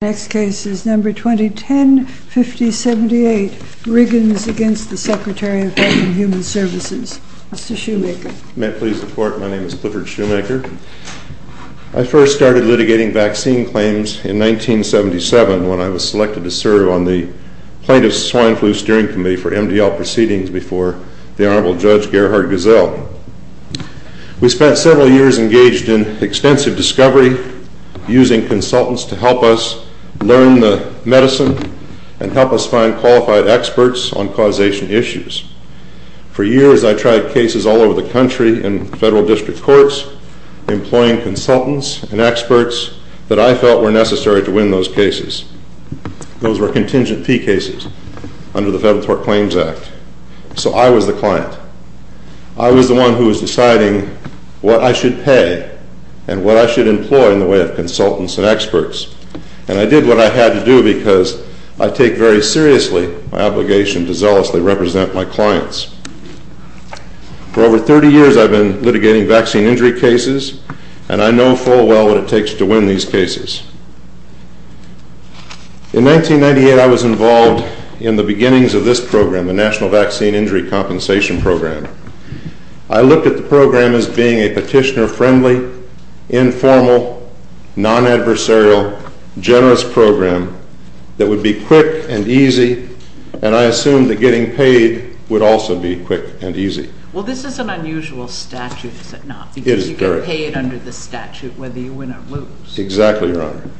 I first started litigating vaccine claims in 1977 when I was selected to serve on the Plaintiff's Swine Flu Steering Committee for MDL proceedings before the Honorable Judge Gerhard Gesell. We spent several years engaged in extensive discovery using consultants to help us learn the medicine and help us find qualified experts on causation issues. For years I tried cases all over the country in federal district courts employing consultants and experts that I felt were necessary to win those cases. Those were contingent P cases under the Federal Tort Claims Act. So I was the one who was deciding what I should pay and what I should employ in the way of consultants and experts. And I did what I had to do because I take very seriously my obligation to zealously represent my clients. For over 30 years I've been litigating vaccine injury cases and I know full well what it takes to win these cases. In 1998 I was involved in the beginnings of this program, the I looked at the program as being a petitioner-friendly, informal, non-adversarial, generous program that would be quick and easy and I assumed that getting paid would also be quick and easy. Well this is an unusual statute, is it not? It is, correct. Because you get paid under the statute whether you win or lose. Exactly, Your Honor.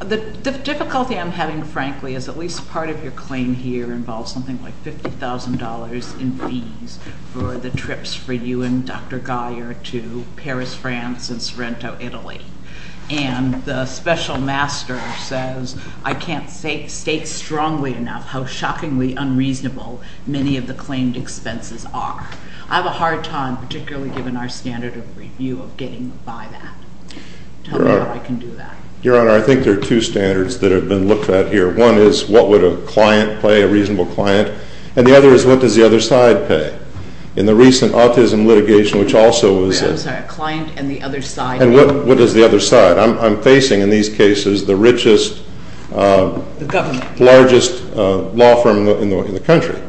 The difficulty I'm having, frankly, is at least part of your claim here involves something like $50,000 in fees for the trips for you and Dr. Geyer to Paris, France and Sorrento, Italy. And the special master says I can't state strongly enough how shockingly unreasonable many of the claimed expenses are. I have a hard time, particularly given our standard of review, of getting by that. Tell me how I can do that. Your Honor, I think there are two standards that have been looked at here. One is what would a client pay, a reasonable client, and the other is what does the other side pay? In the recent autism litigation, which also was a I'm sorry, a client and the other side And what does the other side? I'm facing in these cases the richest The government Largest law firm in the country,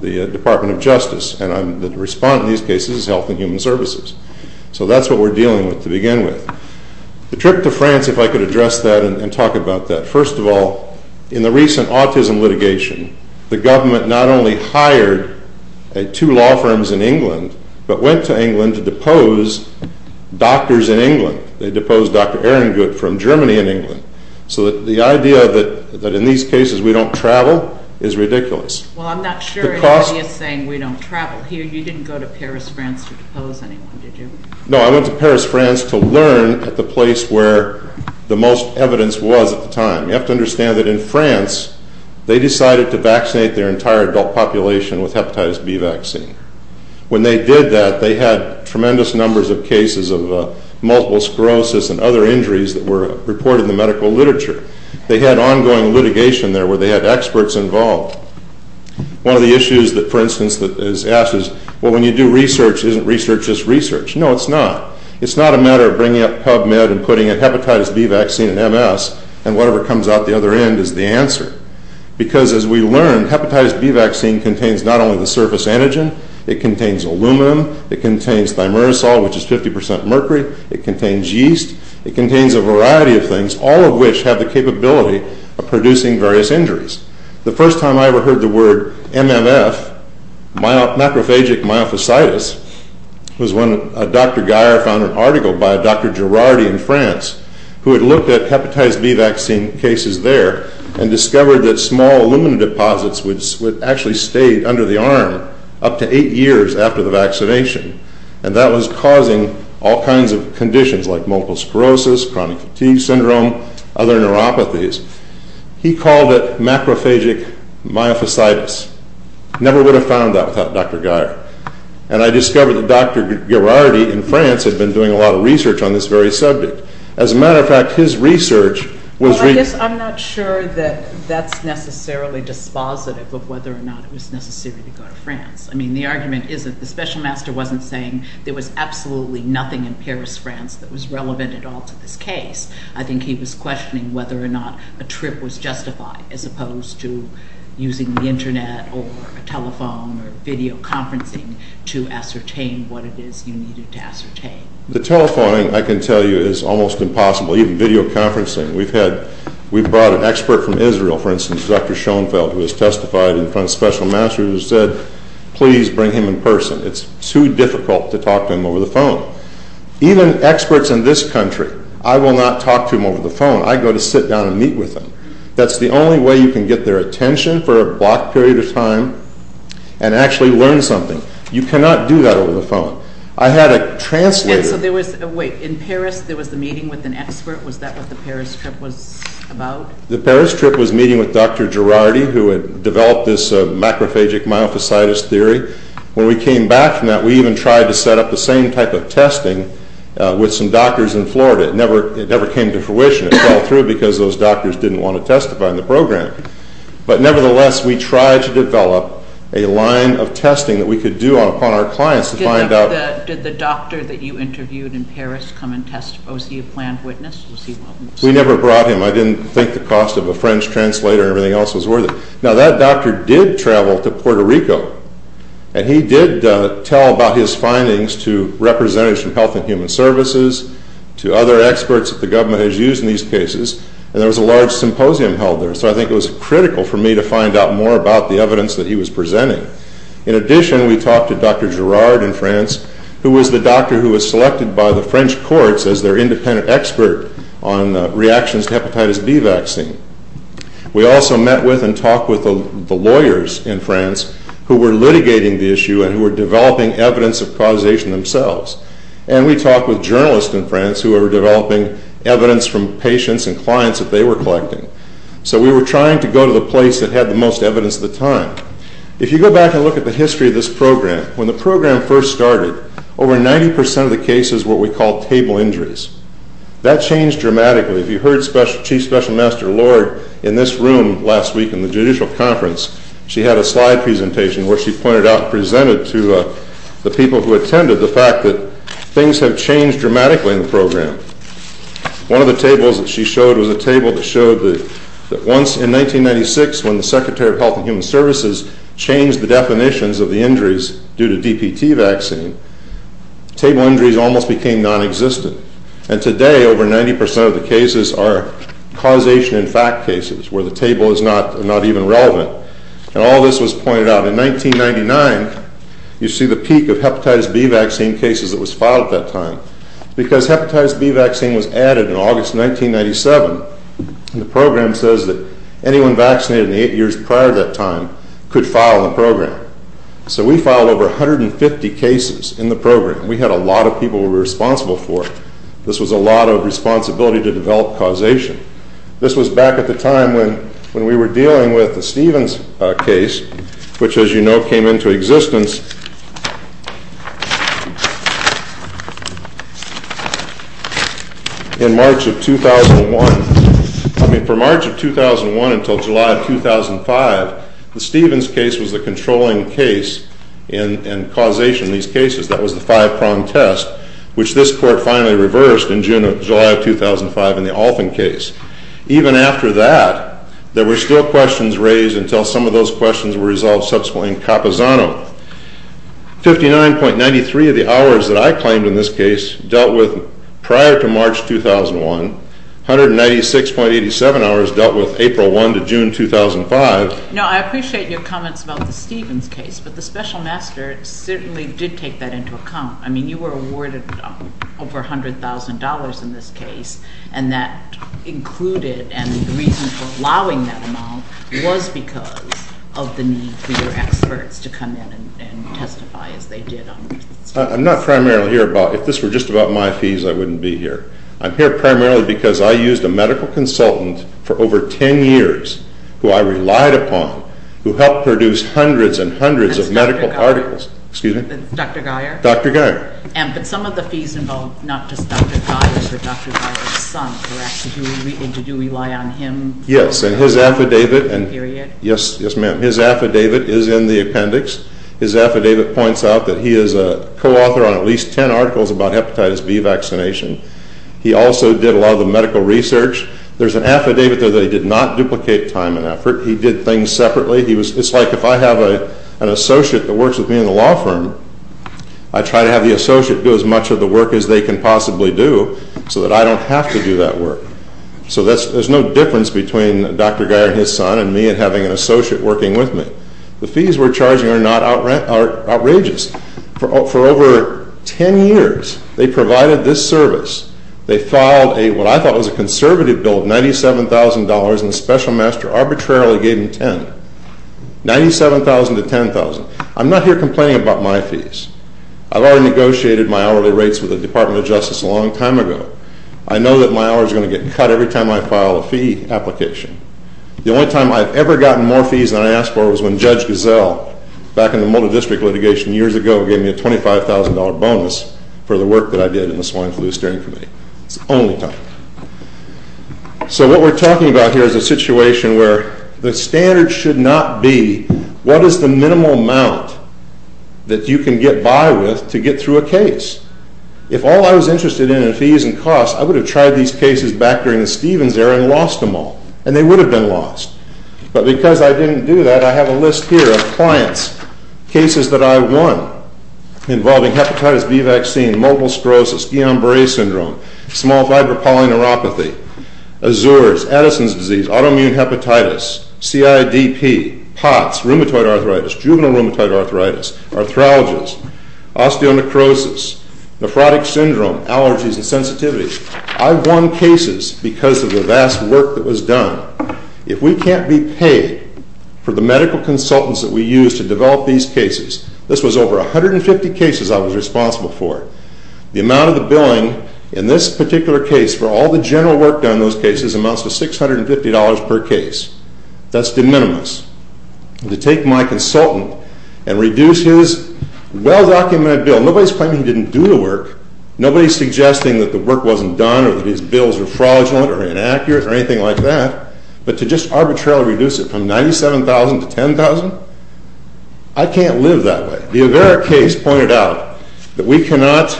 the Department of Justice, and the respondent in these cases is Health and Human Services. So that's what we're dealing with to begin with. The trip to France, if I could address that and talk about that. First of all, in the recent autism litigation, the government not only hired two law firms in England, but went to England to depose doctors in England. They deposed Dr. Ehrengut from Germany and England. So the idea that in these cases we don't travel is ridiculous. Well, I'm not sure anybody is saying we don't travel here. You didn't go to Paris, France to depose anyone, did you? No, I went to Paris, France to learn at the place where the most evidence was at the time. You have to understand that in France, they decided to vaccinate their entire adult population with hepatitis B vaccine. When they did that, they had tremendous numbers of cases of multiple sclerosis and other injuries that were reported in the medical literature. They had ongoing litigation there where they had experts involved. One of the issues that, for instance, is asked is, well, when you do research, isn't research just research? No, it's not. It's not a matter of bringing up PubMed and putting a hepatitis B vaccine in MS, and whatever comes out the other end is the answer. Because as we learned, hepatitis B vaccine contains not only the surface antigen, it contains aluminum, it contains thimerosal, which is 50% mercury, it contains yeast, it contains a variety of things, all of which have the capability of producing various injuries. The first time I ever heard the word MMF, macrophagic myofasciitis, was when a Dr. Guyer found an article by a Dr. Girardi in France who had looked at hepatitis B vaccine cases there and discovered that small aluminum deposits would actually stay under the arm up to eight years after the vaccination, and that was causing all kinds of conditions like multiple sclerosis, chronic fatigue syndrome, other neuropathies. He called it macrophagic myofasciitis. Never would have found that without Dr. Guyer. And I discovered that Dr. Girardi in France had been doing a lot of research on this very subject. As a matter of fact, his research was... Well, I guess I'm not sure that that's necessarily dispositive of whether or not it was necessary to go to France. I mean, the argument is that the special master wasn't saying there was absolutely nothing in Paris, France, that was relevant at all to this case. I think he was questioning whether or not a trip was justified, as opposed to using the internet or a telephone or videoconferencing to ascertain what it is you needed to ascertain. The telephoning, I can tell you, is almost impossible. Even videoconferencing. We've had, we've brought an expert from Israel, for instance, Dr. Schoenfeld, who has testified in front of special masters who said, please bring him in person. It's too difficult to talk to him over the phone. Even experts in this country, I will not talk to them over the phone. I go to sit down and meet with them. That's the only way you can get their attention for a block period of time and actually learn something. You cannot do that over the phone. I had a translator... And so there was, wait, in Paris, there was the meeting with an expert? Was that what the Paris trip was about? The Paris trip was meeting with Dr. Girardi, who had developed this macrophagic myofasciitis theory. When we came back from that, we even tried to set up the same type of testing with some doctors in Florida. It never, it never came to fruition. It fell through because those doctors didn't want to testify in the program. But nevertheless, we tried to develop a line of testing that we could do upon our clients to find out... Did the doctor that you interviewed in Paris come and testify? Was he a planned witness? We never brought him. I didn't think the cost of a French translator and everything else was worth it. Now that doctor did travel to Puerto Rico. And he did tell about his findings to representatives from Health and Human Services, to other experts that the government has used in these cases. And there was a large symposium held there. So I think it was critical for me to find out more about the evidence that he was presenting. In addition, we talked to Dr. Girardi in France, who was the doctor who was selected by the French courts as their independent expert on reactions to hepatitis B vaccine. We also met with and talked with the lawyers in France who were litigating the issue and who were developing evidence of causation themselves. And we talked with journalists in France who were developing evidence from patients and clients that they were collecting. So we were trying to go to the place that had the most evidence at the time. If you go back and look at the history of this program, when the program first started, over 90% of the cases were what we call table injuries. That changed dramatically. If you heard Chief Special Master Lord in this room last week in the judicial conference, she had a slide presentation where she pointed out, presented to the people who attended, the fact that things have changed dramatically in the program. One of the tables that she showed was a table that showed that once in 1996, when the Secretary of Health and Human Services changed the definitions of the injuries due to DPT vaccine, table injuries almost became non-existent. And today, over 90% of the cases are causation in fact cases, where the table is not even relevant. And all this was pointed out. In 1999, you see the peak of hepatitis B vaccine cases that was filed at that time. Because hepatitis B vaccine was added in August 1997, and the program says that anyone vaccinated in the eight years prior to that time could file in the program. So we filed over 150 cases in the program. We had a lot of people who were responsible for it. This was a lot of responsibility to develop causation. This was back at the time when we were dealing with the Stevens case, which as you know, came into existence in March of 2001. I mean, from March of 2001 until July of 2005, the Stevens case was the controlling case in causation in these cases. That was the five-prong test, which this court finally reversed in July of 2005 in the Alton case. Even after that, there were still questions raised until some of those questions were resolved subsequently in Capozzano. 59.93 of the hours that I claimed in this case dealt with prior to March 2001. 196.87 hours dealt with April 1 to June 2005. Now, I appreciate your comments about the Stevens case, but the special master certainly did take that into account. I mean, you were awarded over $100,000 in this case, and that included, and the reason for allowing that amount was because of the need for your experts to come in and testify as they did. I'm not primarily here about, if this were just about my fees, I wouldn't be here. I'm here primarily because I used a medical consultant for over 10 years who I relied upon, who helped produce hundreds and hundreds of medical articles. Dr. Geyer. Dr. Geyer. But some of the fees involved not just Dr. Geyer, but Dr. Geyer's son, correct? Did you rely on him? Yes, and his affidavit- Period? Yes, ma'am. His affidavit is in the appendix. His affidavit points out that he is a co-author on at least 10 articles about hepatitis B vaccination. He also did a lot of the medical research. There's an affidavit there that he did not duplicate time and effort. He did things separately. It's like if I have an associate that works with me in the law firm, I try to have the associate do as much of the work as they can possibly do so that I don't have to do that work. So there's no difference between Dr. Geyer and his son and me and having an associate working with me. The fees we're charging are not outrageous. For over 10 years, they provided this service. They filed what I thought was a conservative bill of $97,000 and the special master arbitrarily gave him $10,000. $97,000 to $10,000. I'm not here complaining about my fees. I've already negotiated my hourly rates with the Department of Justice a long time ago. I know that my hours are going to get cut every time I file a fee application. The only time I've ever gotten more fees than I asked for was when Judge Gazelle, back in the Mulder District litigation years ago, gave me a $25,000 bonus for the work that I did in the Swine Flu Steering Committee. It's the only time. So what we're talking about here is a situation where the standard should not be what is the minimal amount that you can get by with to get through a case. If all I was interested in, in fees and costs, I would have tried these cases back during the Stevens era and lost them all. And they would have been lost. But because I didn't do that, I have a list here of clients, cases that I won involving hepatitis B vaccine, multiple sclerosis, Guillain-Barre syndrome, small fiber polyneuropathy, Azures, Addison's disease, autoimmune hepatitis, CIDP, POTS, rheumatoid arthritis, juvenile rheumatoid arthritis, arthralgias, osteonecrosis, nephrotic syndrome, allergies and sensitivities. I won cases because of the vast work that was done. If we can't be paid for the medical consultants that we use to develop these cases, this was over 150 cases I was responsible for. The amount of the billing in this particular case for all the general work done on those cases amounts to $650 per case. That's de minimis. To take my consultant and reduce his well-documented bill, nobody's claiming he didn't do the work. Nobody's suggesting that the work wasn't done or that his bills are fraudulent or inaccurate or anything like that. But to just arbitrarily reduce it from $97,000 to $10,000? I can't live that way. The Avera case pointed out that we cannot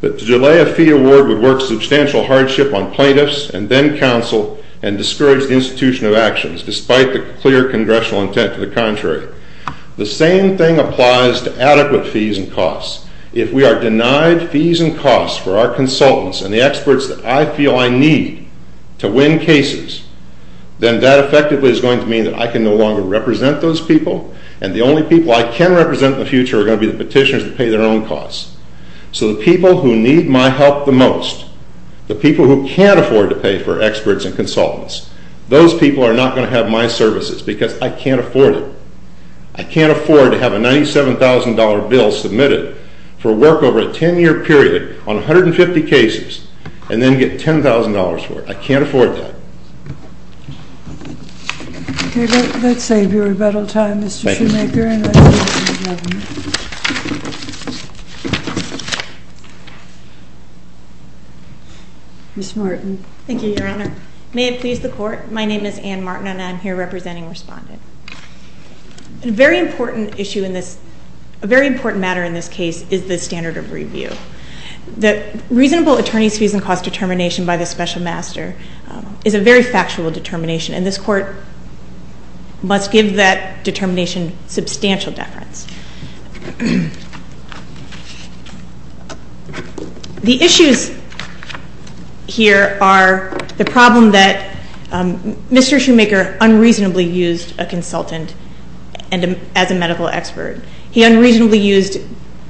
But to delay a fee award would work substantial hardship on plaintiffs and then counsel and discourage the institution of actions, despite the clear congressional intent to the contrary. The same thing applies to adequate fees and costs. If we are denied fees and costs for our consultants and the experts that I feel I need to win cases, then that effectively is going to mean that I can no longer represent those people and the only people I can represent in the future are going to be the petitioners that pay their own costs. So the people who need my help the most, the people who can't afford to pay for experts and consultants, those people are not going to have my services because I can't afford it. I can't afford to have a $97,000 bill submitted for work over a 10-year period on 150 cases and then get $10,000 for it. I can't afford that. Okay, let's save your rebuttal time, Mr. Shoemaker. Ms. Martin. Thank you, Your Honor. May it please the Court, my name is Anne Martin and I'm here representing Respondent. A very important issue in this, a very important matter in this case is the standard of review. The reasonable attorneys' fees and cost determination by the special master is a very factual determination and this Court must give that determination substantial deference. The issues here are the problem that Mr. Shoemaker unreasonably used a consultant as a medical expert. He unreasonably used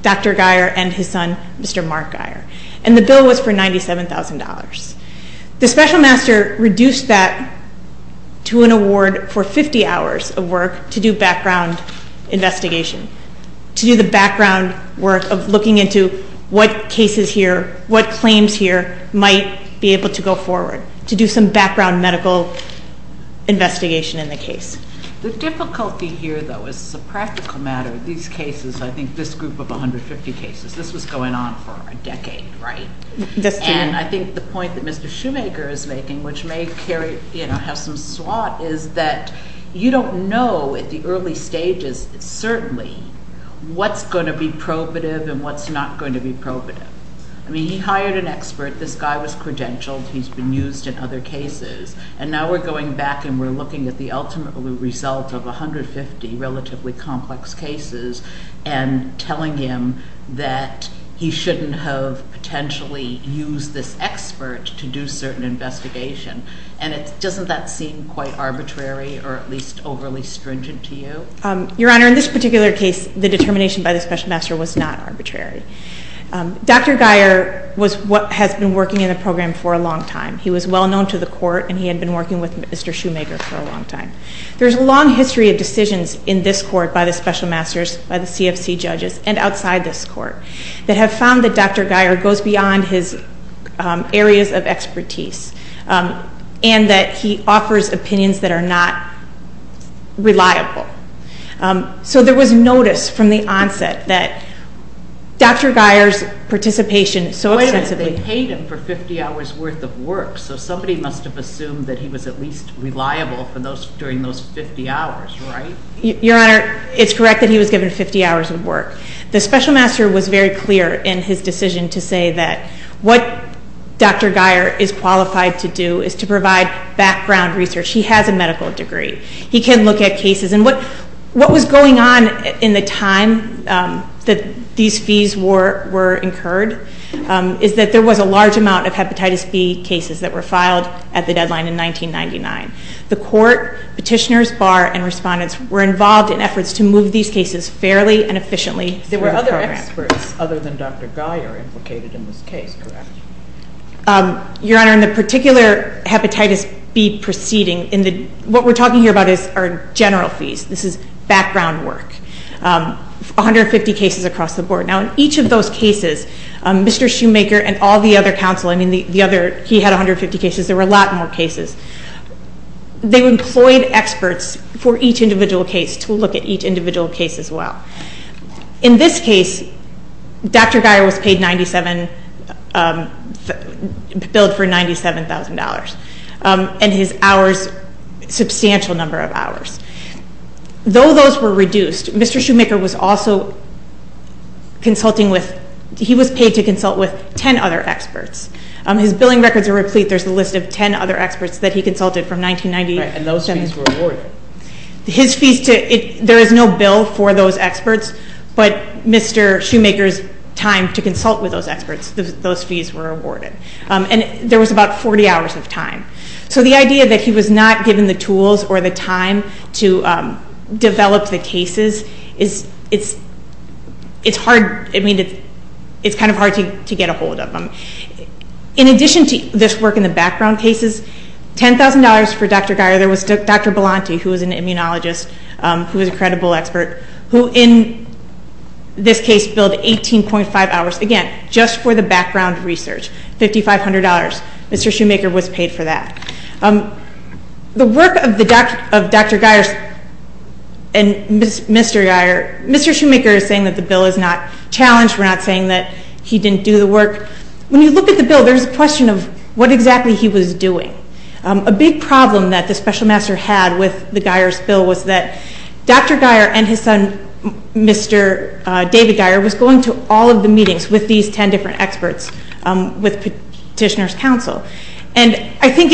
Dr. Geier and his son, Mr. Mark Geier, and the bill was for $97,000. The special master reduced that to an award for 50 hours of work to do background investigation, to do the background work of looking into what cases here, what claims here might be able to go forward, to do some background medical investigation in the case. The difficulty here, though, is a practical matter. These cases, I think this group of 150 cases, this was going on for a decade, right? That's true. I think the point that Mr. Shoemaker is making, which may have some swat, is that you don't know at the early stages certainly what's going to be probative and what's not going to be probative. I mean, he hired an expert. This guy was credentialed. He's been used in other cases. Now we're going back and we're looking at the ultimate result of 150 relatively complex cases and telling him that he shouldn't have potentially used this expert to do certain investigation. And doesn't that seem quite arbitrary or at least overly stringent to you? Your Honor, in this particular case, the determination by the special master was not arbitrary. Dr. Geier has been working in the program for a long time. He was well known to the court and he had been working with Mr. Shoemaker for a long time. There's a long history of decisions in this court by the special masters, by the CFC judges, and outside this court that have found that Dr. Geier goes beyond his areas of expertise and that he offers opinions that are not reliable. So there was notice from the onset that Dr. Geier's participation so extensively- Wait a minute. They paid him for 50 hours worth of work. So somebody must have assumed that he was at least reliable during those 50 hours, right? Your Honor, it's correct that he was given 50 hours of work. The special master was very clear in his decision to say that what Dr. Geier is qualified to do is to provide background research. He has a medical degree. He can look at cases. And what was going on in the time that these fees were incurred is that there was a large amount of Hepatitis B cases that were filed at the deadline in 1999. The court, petitioners, bar, and respondents were involved in efforts to move these cases fairly and efficiently through the program. There were other experts other than Dr. Geier implicated in this case, correct? Your Honor, in the particular Hepatitis B proceeding, what we're talking about here are general fees. This is background work. 150 cases across the board. Now in each of those cases, Mr. Shoemaker and all the other counsel, I mean the other, he had 150 cases. There were a lot more cases. They employed experts for each individual case to look at each individual case as well. In this case, Dr. Geier was paid 97, billed for $97,000 and his hours, substantial number of hours. Though those were reduced, Mr. Shoemaker was also consulting with, he was paid to consult with 10 other experts. His billing records are replete. There's a list of 10 other experts that he consulted from 1997. And those fees were awarded. His fees, there is no bill for those experts, but Mr. Shoemaker's time to consult with those experts, those fees were awarded. And there was about 40 hours of time. So the idea that he was not given the tools or the time to develop the cases, it's hard, I mean, it's kind of hard to get a hold of them. In addition to this work in the background cases, $10,000 for Dr. Geier, there was Dr. Belanti, who was an immunologist, who was a credible expert, who in this case billed 18.5 hours, again, just for the background research, $5,500. Mr. Shoemaker was paid for that. The work of Dr. Geier and Mr. Geier, Mr. Shoemaker is saying that the bill is not challenged. We're not saying that he didn't do the work. When you look at the bill, there's a question of what exactly he was doing. A big problem that the special master had with the Geier's bill was that Dr. Geier and his son, Mr. David Geier, was going to all of the meetings with these 10 different experts with Petitioner's Council. And I think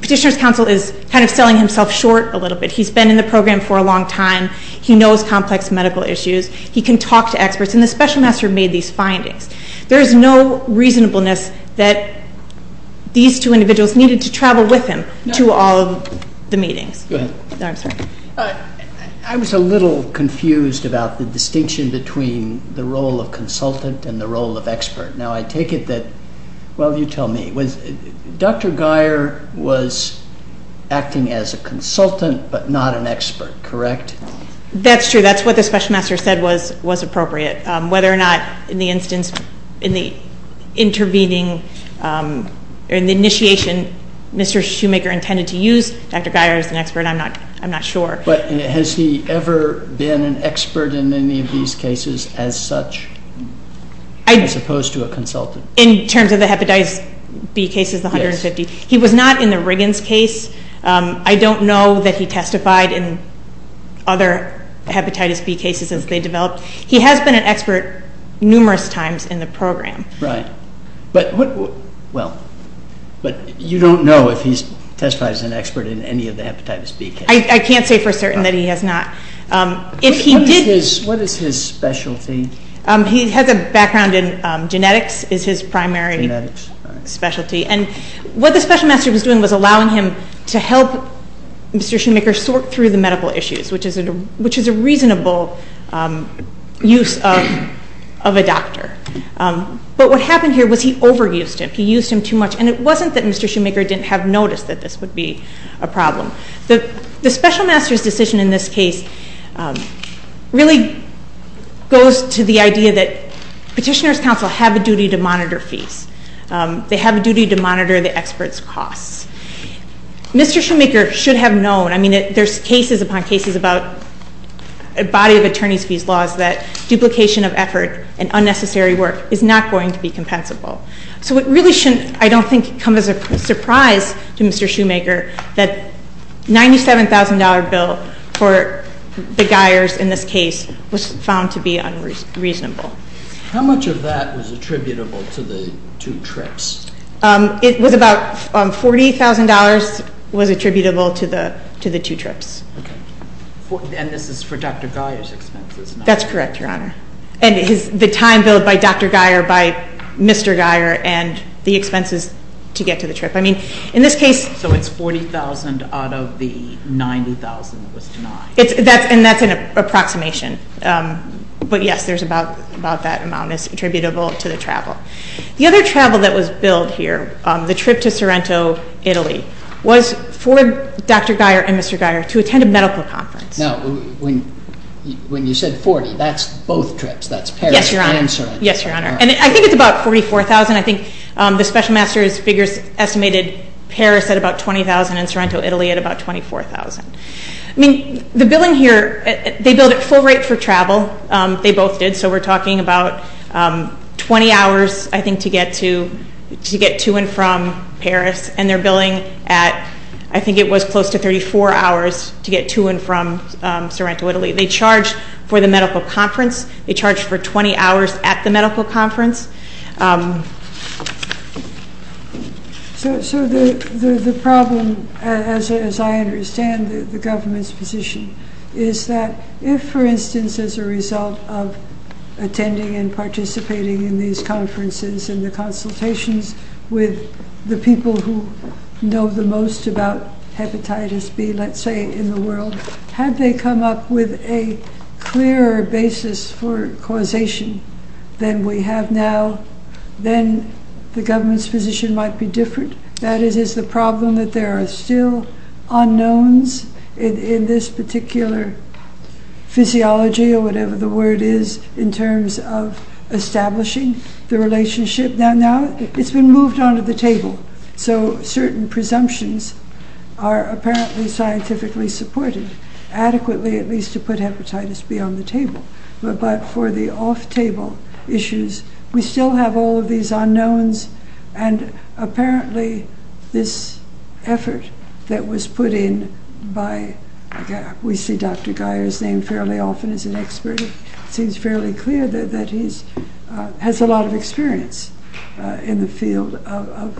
Petitioner's Council is kind of selling himself short a little bit. He's been in the program for a long time. He knows complex medical issues. He can talk to experts. And the special master made these findings. There is no reasonableness that these two individuals needed to travel with him to all of the meetings. I was a little confused about the distinction between the role of consultant and the role of expert. Now, I take it that, well, you tell me. Dr. Geier was acting as a consultant but not an expert, correct? That's true. That's what the special master said was appropriate. Whether or not in the instance, in the intervening, in the initiation, Mr. Shoemaker intended to use Dr. Geier as an expert, I'm not sure. But has he ever been an expert in any of these cases as such? As opposed to a consultant? In terms of the Hepatitis B cases, the 150. He was not in the Riggins case. I don't know that he testified in other Hepatitis B cases as they developed. He has been an expert numerous times in the program. Right. Well, but you don't know if he's testified as an expert in any of the Hepatitis B cases. I can't say for certain that he has not. What is his specialty? He has a background in genetics, is his primary specialty. And what the special master was doing was allowing him to help Mr. Shoemaker sort through the medical issues, which is a reasonable use of a doctor. But what happened here was he overused him. He used him too much. And it wasn't that Mr. Shoemaker didn't have noticed that this would be a problem. The special master's decision in this case really goes to the idea that petitioners' counsel have a duty to monitor fees. They have a duty to monitor the expert's costs. Mr. Shoemaker should have known. I mean, there's cases upon cases about a body of attorney's fees laws that duplication of effort and unnecessary work is not going to be compensable. So it really shouldn't, I don't think, come as a surprise to Mr. Shoemaker that a $97,000 bill for the Guyers in this case was found to be unreasonable. How much of that was attributable to the two trips? It was about $40,000 was attributable to the two trips. And this is for Dr. Guyer's expenses? That's correct, Your Honor. And the time billed by Dr. Guyer, by Mr. Guyer, and the expenses to get to the trip. I mean, in this case... So it's $40,000 out of the $90,000 that was denied. And that's an approximation. But yes, there's about that amount that's attributable to the travel. The other travel that was billed here, the trip to Sorrento, Italy, was for Dr. Guyer and Mr. Guyer to attend a medical conference. Now, when you said $40,000, that's both trips. That's Paris and Sorrento. Yes, Your Honor. And I think it's about $44,000. I think the Special Master's figures estimated Paris at about $20,000 and Sorrento, Italy, at about $24,000. I mean, the billing here, they billed at full rate for travel. They both did. So we're talking about 20 hours, I think, to get to and from Paris. And they're billing at... I think it was close to 34 hours to get to and from Sorrento, Italy. They charged for the medical conference. They charged for 20 hours at the medical conference. So the problem, as I understand the government's position, is that if, for instance, as a result of attending and participating in these conferences and the consultations with the people who know the most about hepatitis B, let's say, in the world, had they come up with a clearer basis for causation than we have now, then the government's position might be different. That is, it's the problem that there are still unknowns in this particular physiology, or whatever the word is, in terms of establishing the relationship. So certain presumptions are apparently scientifically supported adequately, at least to put hepatitis B on the table. But for the off-table issues, we still have all of these unknowns. And apparently, this effort that was put in by... We see Dr. Geyer's name fairly often as an expert. It seems fairly clear that he has a lot of experience in the field of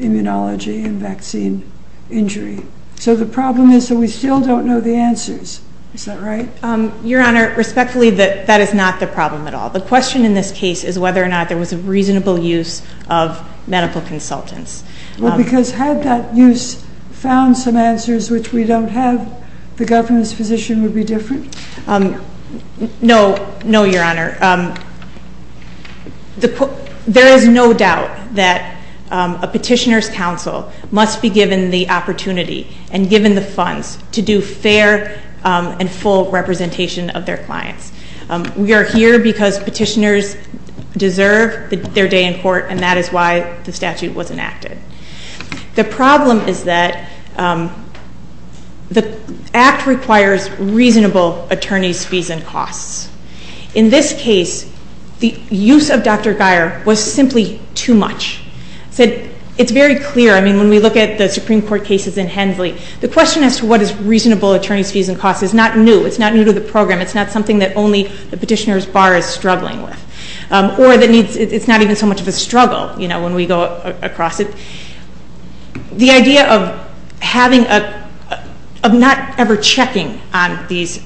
immunology and vaccine injury. So the problem is that we still don't know the answers. Is that right? Your Honor, respectfully, that is not the problem at all. The question in this case is whether or not there was a reasonable use of medical consultants. Well, because had that use found some answers which we don't have, the government's position would be different. No, no, Your Honor. There is no doubt that a petitioner's counsel must be given the opportunity and given the funds to do fair and full representation of their clients. We are here because petitioners deserve their day in court, and that is why the statute was enacted. The problem is that the Act requires reasonable attorney's fees and costs. In this case, the use of Dr. Geyer was simply too much. It's very clear. I mean, when we look at the Supreme Court cases in Hensley, the question as to what is reasonable attorney's fees and costs is not new. It's not new to the program. It's not something that only the petitioner's bar is struggling with. Or it's not even so much of a struggle, you know, when we go across it. The idea of not ever checking on these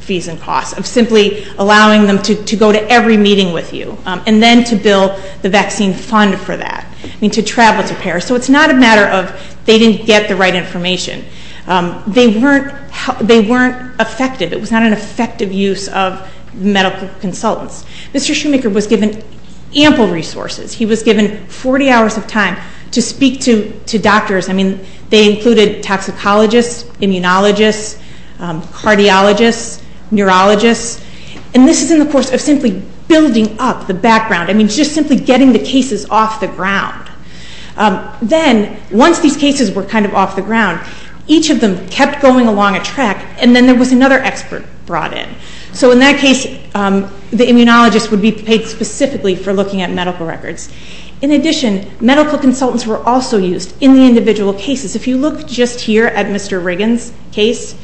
fees and costs, of simply allowing them to go to every meeting with you, and then to bill the vaccine fund for that, I mean, to travel to Paris. So it's not a matter of they didn't get the right information. They weren't effective. It was not an effective use of medical consultants. Mr. Shoemaker was given ample resources. He was given 40 hours of time to speak to doctors. I mean, they included toxicologists, immunologists, cardiologists, neurologists. And this is in the course of simply building up the background. I mean, just simply getting the cases off the ground. Then, once these cases were kind of off the ground, each of them kept going along a track, and then there was another expert brought in. So in that case, the immunologist would be paid specifically for looking at medical records. In addition, medical consultants were also used in the individual cases. If you look just here at Mr. Riggins' case,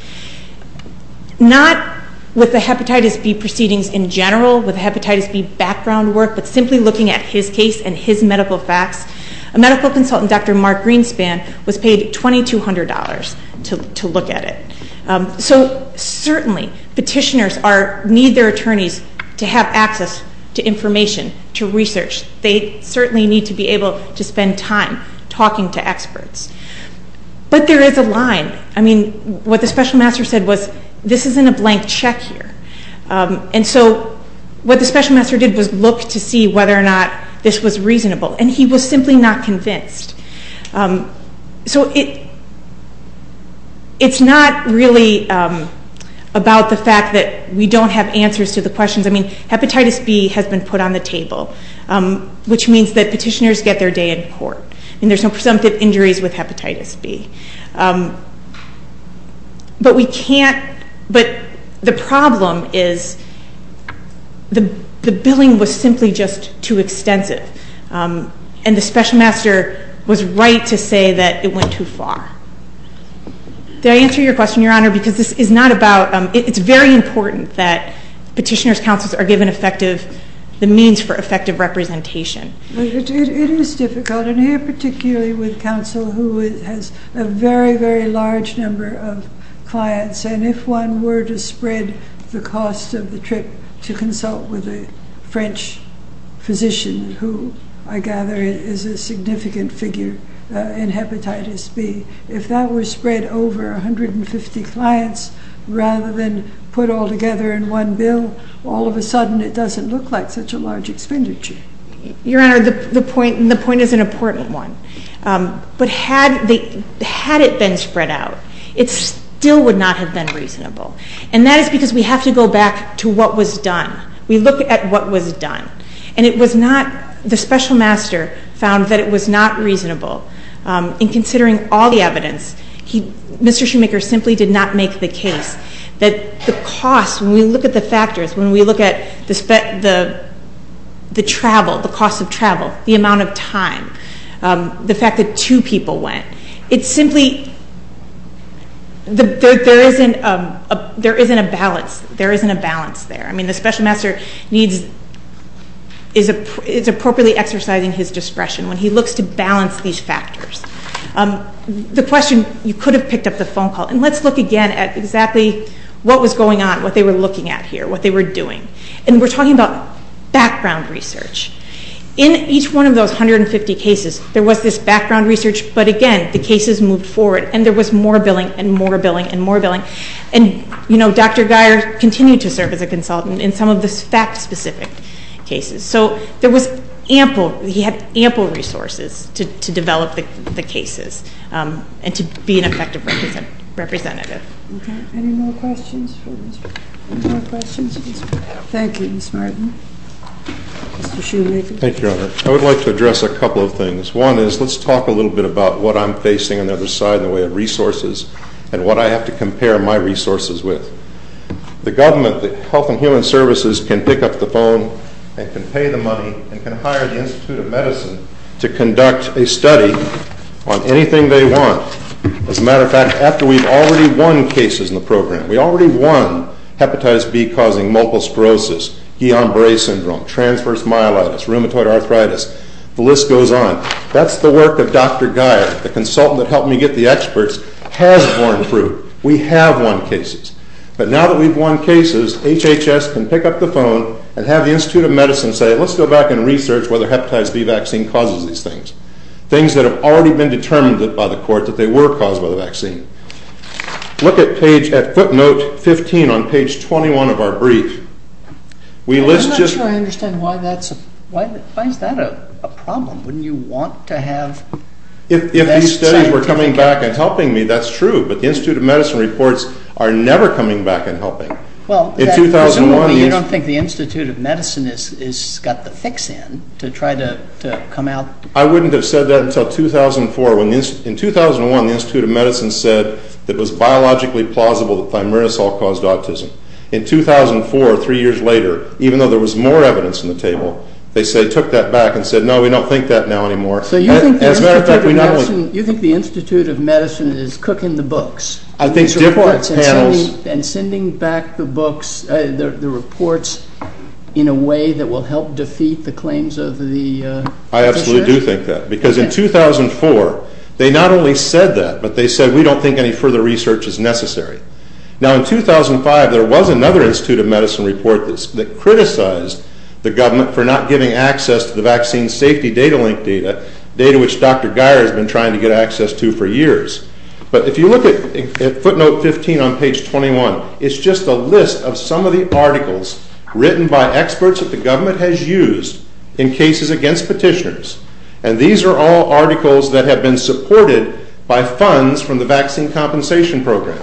not with the hepatitis B proceedings in general, with hepatitis B background work, but simply looking at his case and his medical facts, a medical consultant, Dr. Mark Greenspan, was paid $2,200 to look at it. So certainly, petitioners need their attorneys to have access to information, to research. They certainly need to be able to spend time talking to experts. But there is a line. I mean, what the special master said was, this isn't a blank check here. And so what the special master did was look to see whether or not this was reasonable. And he was simply not convinced. So it's not really about the fact that we don't have answers to the questions. I mean, hepatitis B has been put on the table, which means that petitioners get their day in court. And there's no presumptive injuries with hepatitis B. But we can't, but the problem is the billing was simply just too extensive. And the special master was right to say that it went too far. Did I answer your question, Your Honor? Because this is not about, it's very important that petitioners' counsels are given effective, the means for effective representation. It is difficult. And here, particularly with counsel who has a very, very large number of clients. And if one were to spread the cost of the trip to consult with a French physician who I gather is a significant figure in hepatitis B, if that were spread over 150 clients rather than put all together in one bill, all of a sudden it doesn't look like such a large expenditure. Your Honor, the point is an important one. But had it been spread out, it still would not have been reasonable. And that is because we have to go back to what was done. We look at what was done. And it was not, the special master found that it was not reasonable. In considering all the evidence, Mr. Shoemaker simply did not make the case that the cost, when we look at the factors, when we look at the travel, the cost of travel, the amount of time, the fact that two people went. It simply, there isn't a balance. There isn't a balance there. The special master needs, is appropriately exercising his discretion when he looks to balance these factors. The question, you could have picked up the phone call. And let's look again at exactly what was going on, what they were looking at here, what they were doing. And we're talking about background research. In each one of those 150 cases, there was this background research. But again, the cases moved forward. And there was more billing and more billing and more billing. And Dr. Geyer continued to serve as a consultant in some of the fact-specific cases. So there was ample, he had ample resources to develop the cases and to be an effective representative. Okay. Any more questions for Mr. Shoemaker? Thank you, Ms. Martin. Mr. Shoemaker. Thank you, Your Honor. I would like to address a couple of things. One is, let's talk a little bit about what I'm facing on the other side in the way of resources and what I have to compare my resources with. The government, the Health and Human Services can pick up the phone and can pay the money and can hire the Institute of Medicine to conduct a study on anything they want. As a matter of fact, after we've already won cases in the program, we already won hepatitis B-causing multiple sclerosis, Guillain-Barre syndrome, transverse myelitis, rheumatoid arthritis. The list goes on. That's the work of Dr. Geyer, the consultant that helped me get the experts, has borne fruit. We have won cases. But now that we've won cases, HHS can pick up the phone and have the Institute of Medicine say, let's go back and research whether hepatitis B vaccine causes these things. Things that have already been determined by the court that they were caused by the vaccine. Look at footnote 15 on page 21 of our brief. I'm not sure I understand why that's a problem. Wouldn't you want to have... If these studies were coming back and helping me, that's true. But the Institute of Medicine reports are never coming back and helping. Well, presumably, you don't think the Institute of Medicine has got the fix in to try to come out? I wouldn't have said that until 2004. In 2001, the Institute of Medicine said that it was biologically plausible that thimerosal caused autism. In 2004, three years later, even though there was more evidence on the table, they took that back and said, no, we don't think that now anymore. So you think the Institute of Medicine is cooking the books? And sending back the reports in a way that will help defeat the claims of the... I absolutely do think that. Because in 2004, they not only said that, but they said, we don't think any further research is necessary. Now, in 2005, there was another Institute of Medicine report that criticized the government for not giving access to the vaccine safety data link data, data which Dr. Geyer has been trying to get access to for years. But if you look at footnote 15 on page 21, it's just a list of some of the articles written by experts that the government has used in cases against petitioners. And these are all articles that have been supported by funds from the vaccine compensation program.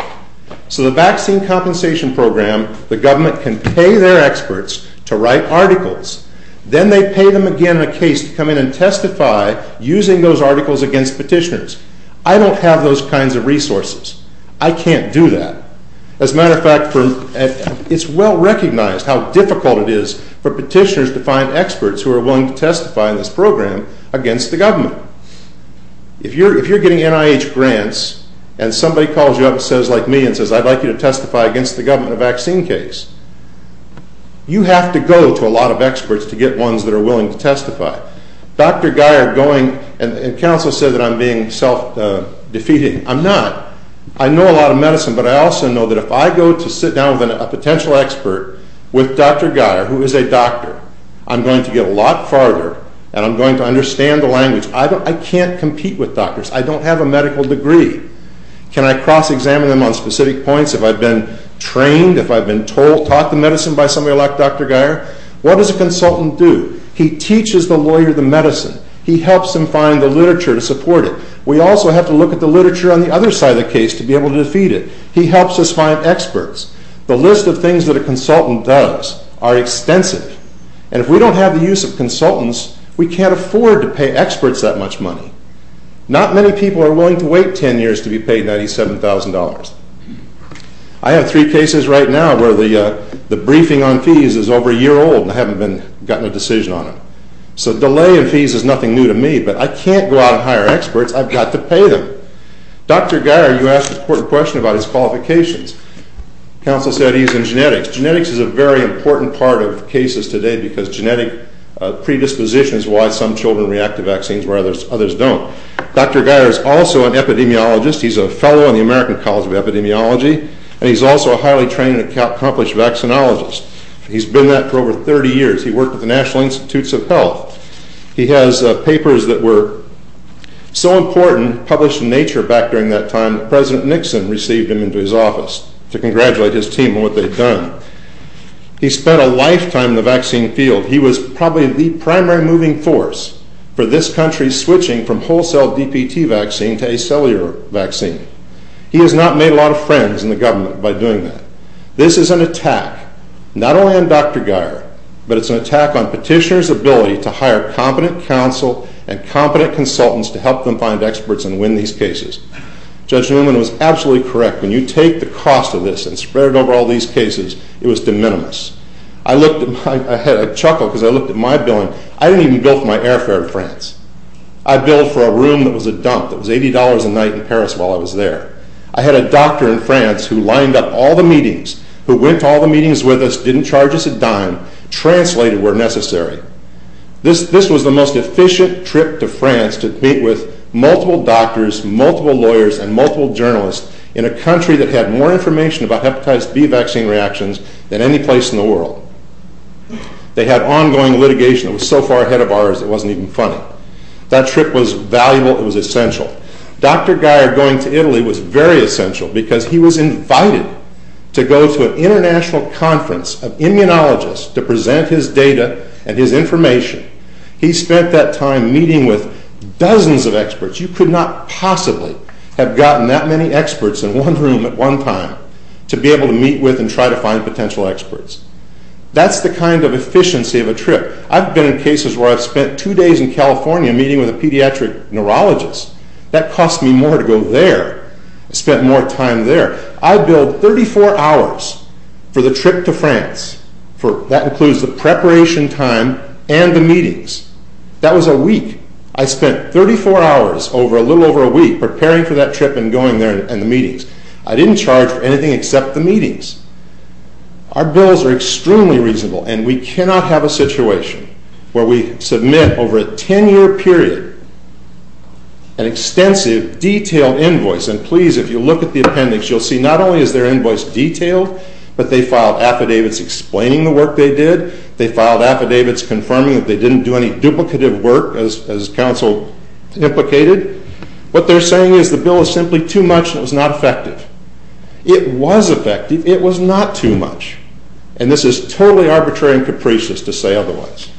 So the vaccine compensation program, the government can pay their experts to write articles. Then they pay them again in a case to come in and testify using those articles against petitioners. I don't have those kinds of resources. I can't do that. As a matter of fact, it's well recognized how difficult it is for petitioners to find experts who are willing to testify in this program against the government. If you're getting NIH grants, and somebody calls you up and says like me and says, I'd like you to testify against the government a vaccine case, you have to go to a lot of experts to get ones that are willing to testify. Dr. Geyer going and counsel said that I'm being self-defeating. I'm not. I know a lot of medicine, but I also know that if I go to sit down with a potential expert with Dr. Geyer, who is a doctor, I'm going to get a lot farther, and I'm going to understand the language. I can't compete with doctors. I don't have a medical degree. Can I cross-examine them on specific points if I've been trained, if I've been taught the medicine by somebody like Dr. Geyer? What does a consultant do? He teaches the lawyer the medicine. He helps him find the literature to support it. We also have to look at the literature on the other side of the case to be able to defeat it. He helps us find experts. The list of things that a consultant does are extensive, and if we don't have the use of consultants, we can't afford to pay experts that much money. Not many people are willing to wait 10 years to be paid $97,000. I have three cases right now where the briefing on fees is over a year old, and I haven't gotten a decision on it. So delay in fees is nothing new to me, but I can't go out and hire experts. I've got to pay them. Dr. Geyer, you asked an important question about his qualifications. Counsel said he's in genetics. Genetics is a very important part of cases today because genetic predisposition is why some children react to vaccines where others don't. Dr. Geyer is also an epidemiologist. He's a fellow in the American College of Epidemiology, and he's also a highly trained and accomplished vaccinologist. He's been that for over 30 years. He worked with the National Institutes of Health. He has papers that were so important, published in Nature back during that time, President Nixon received him into his office to congratulate his team on what they'd done. He spent a lifetime in the vaccine field. He was probably the primary moving force for this country switching from wholesale DPT vaccine to a cellular vaccine. He has not made a lot of friends in the government by doing that. This is an attack, not only on Dr. Geyer, but it's an attack on petitioners' ability to hire competent counsel and competent consultants to help them find experts and win these cases. Judge Newman was absolutely correct. When you take the cost of this and spread it over all these cases, it was de minimis. I looked at my... I had a chuckle because I looked at my billing. I didn't even bill for my airfare in France. I billed for a room that was a dump, that was $80 a night in Paris while I was there. I had a doctor in France who lined up all the meetings, who went to all the meetings with us, didn't charge us a dime, translated where necessary. This was the most efficient trip to France to meet with multiple doctors, multiple lawyers, and multiple journalists in a country that had more information about hepatitis B vaccine reactions than any place in the world. They had ongoing litigation that was so far ahead of ours, it wasn't even funny. That trip was valuable. It was essential. Dr. Geier going to Italy was very essential because he was invited to go to an international conference of immunologists to present his data and his information. He spent that time meeting with dozens of experts. You could not possibly have gotten that many experts in one room at one time to be able to meet with and try to find potential experts. That's the kind of efficiency of a trip. I've been in cases where I've spent two days in California meeting with a pediatric neurologist. That cost me more to go there. I spent more time there. I billed 34 hours for the trip to France. That includes the preparation time and the meetings. That was a week. I spent 34 hours over a little over a week preparing for that trip and going there and the meetings. I didn't charge for anything except the meetings. Our bills are extremely reasonable and we cannot have a situation where we submit over a 10-year period an extensive detailed invoice. And please, if you look at the appendix, you'll see not only is their invoice detailed, but they filed affidavits explaining the work they did. They filed affidavits confirming that they didn't do any duplicative work as counsel implicated. What they're saying is the bill is simply too much and it was not effective. It was effective. It was not too much. And this is totally arbitrary and capricious to say otherwise.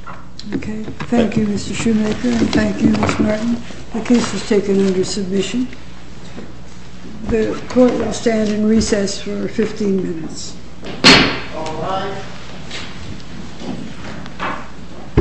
Okay. Thank you, Mr. Shoemaker. And thank you, Ms. Martin. The case is taken under submission. The court will stand in recess for 15 minutes.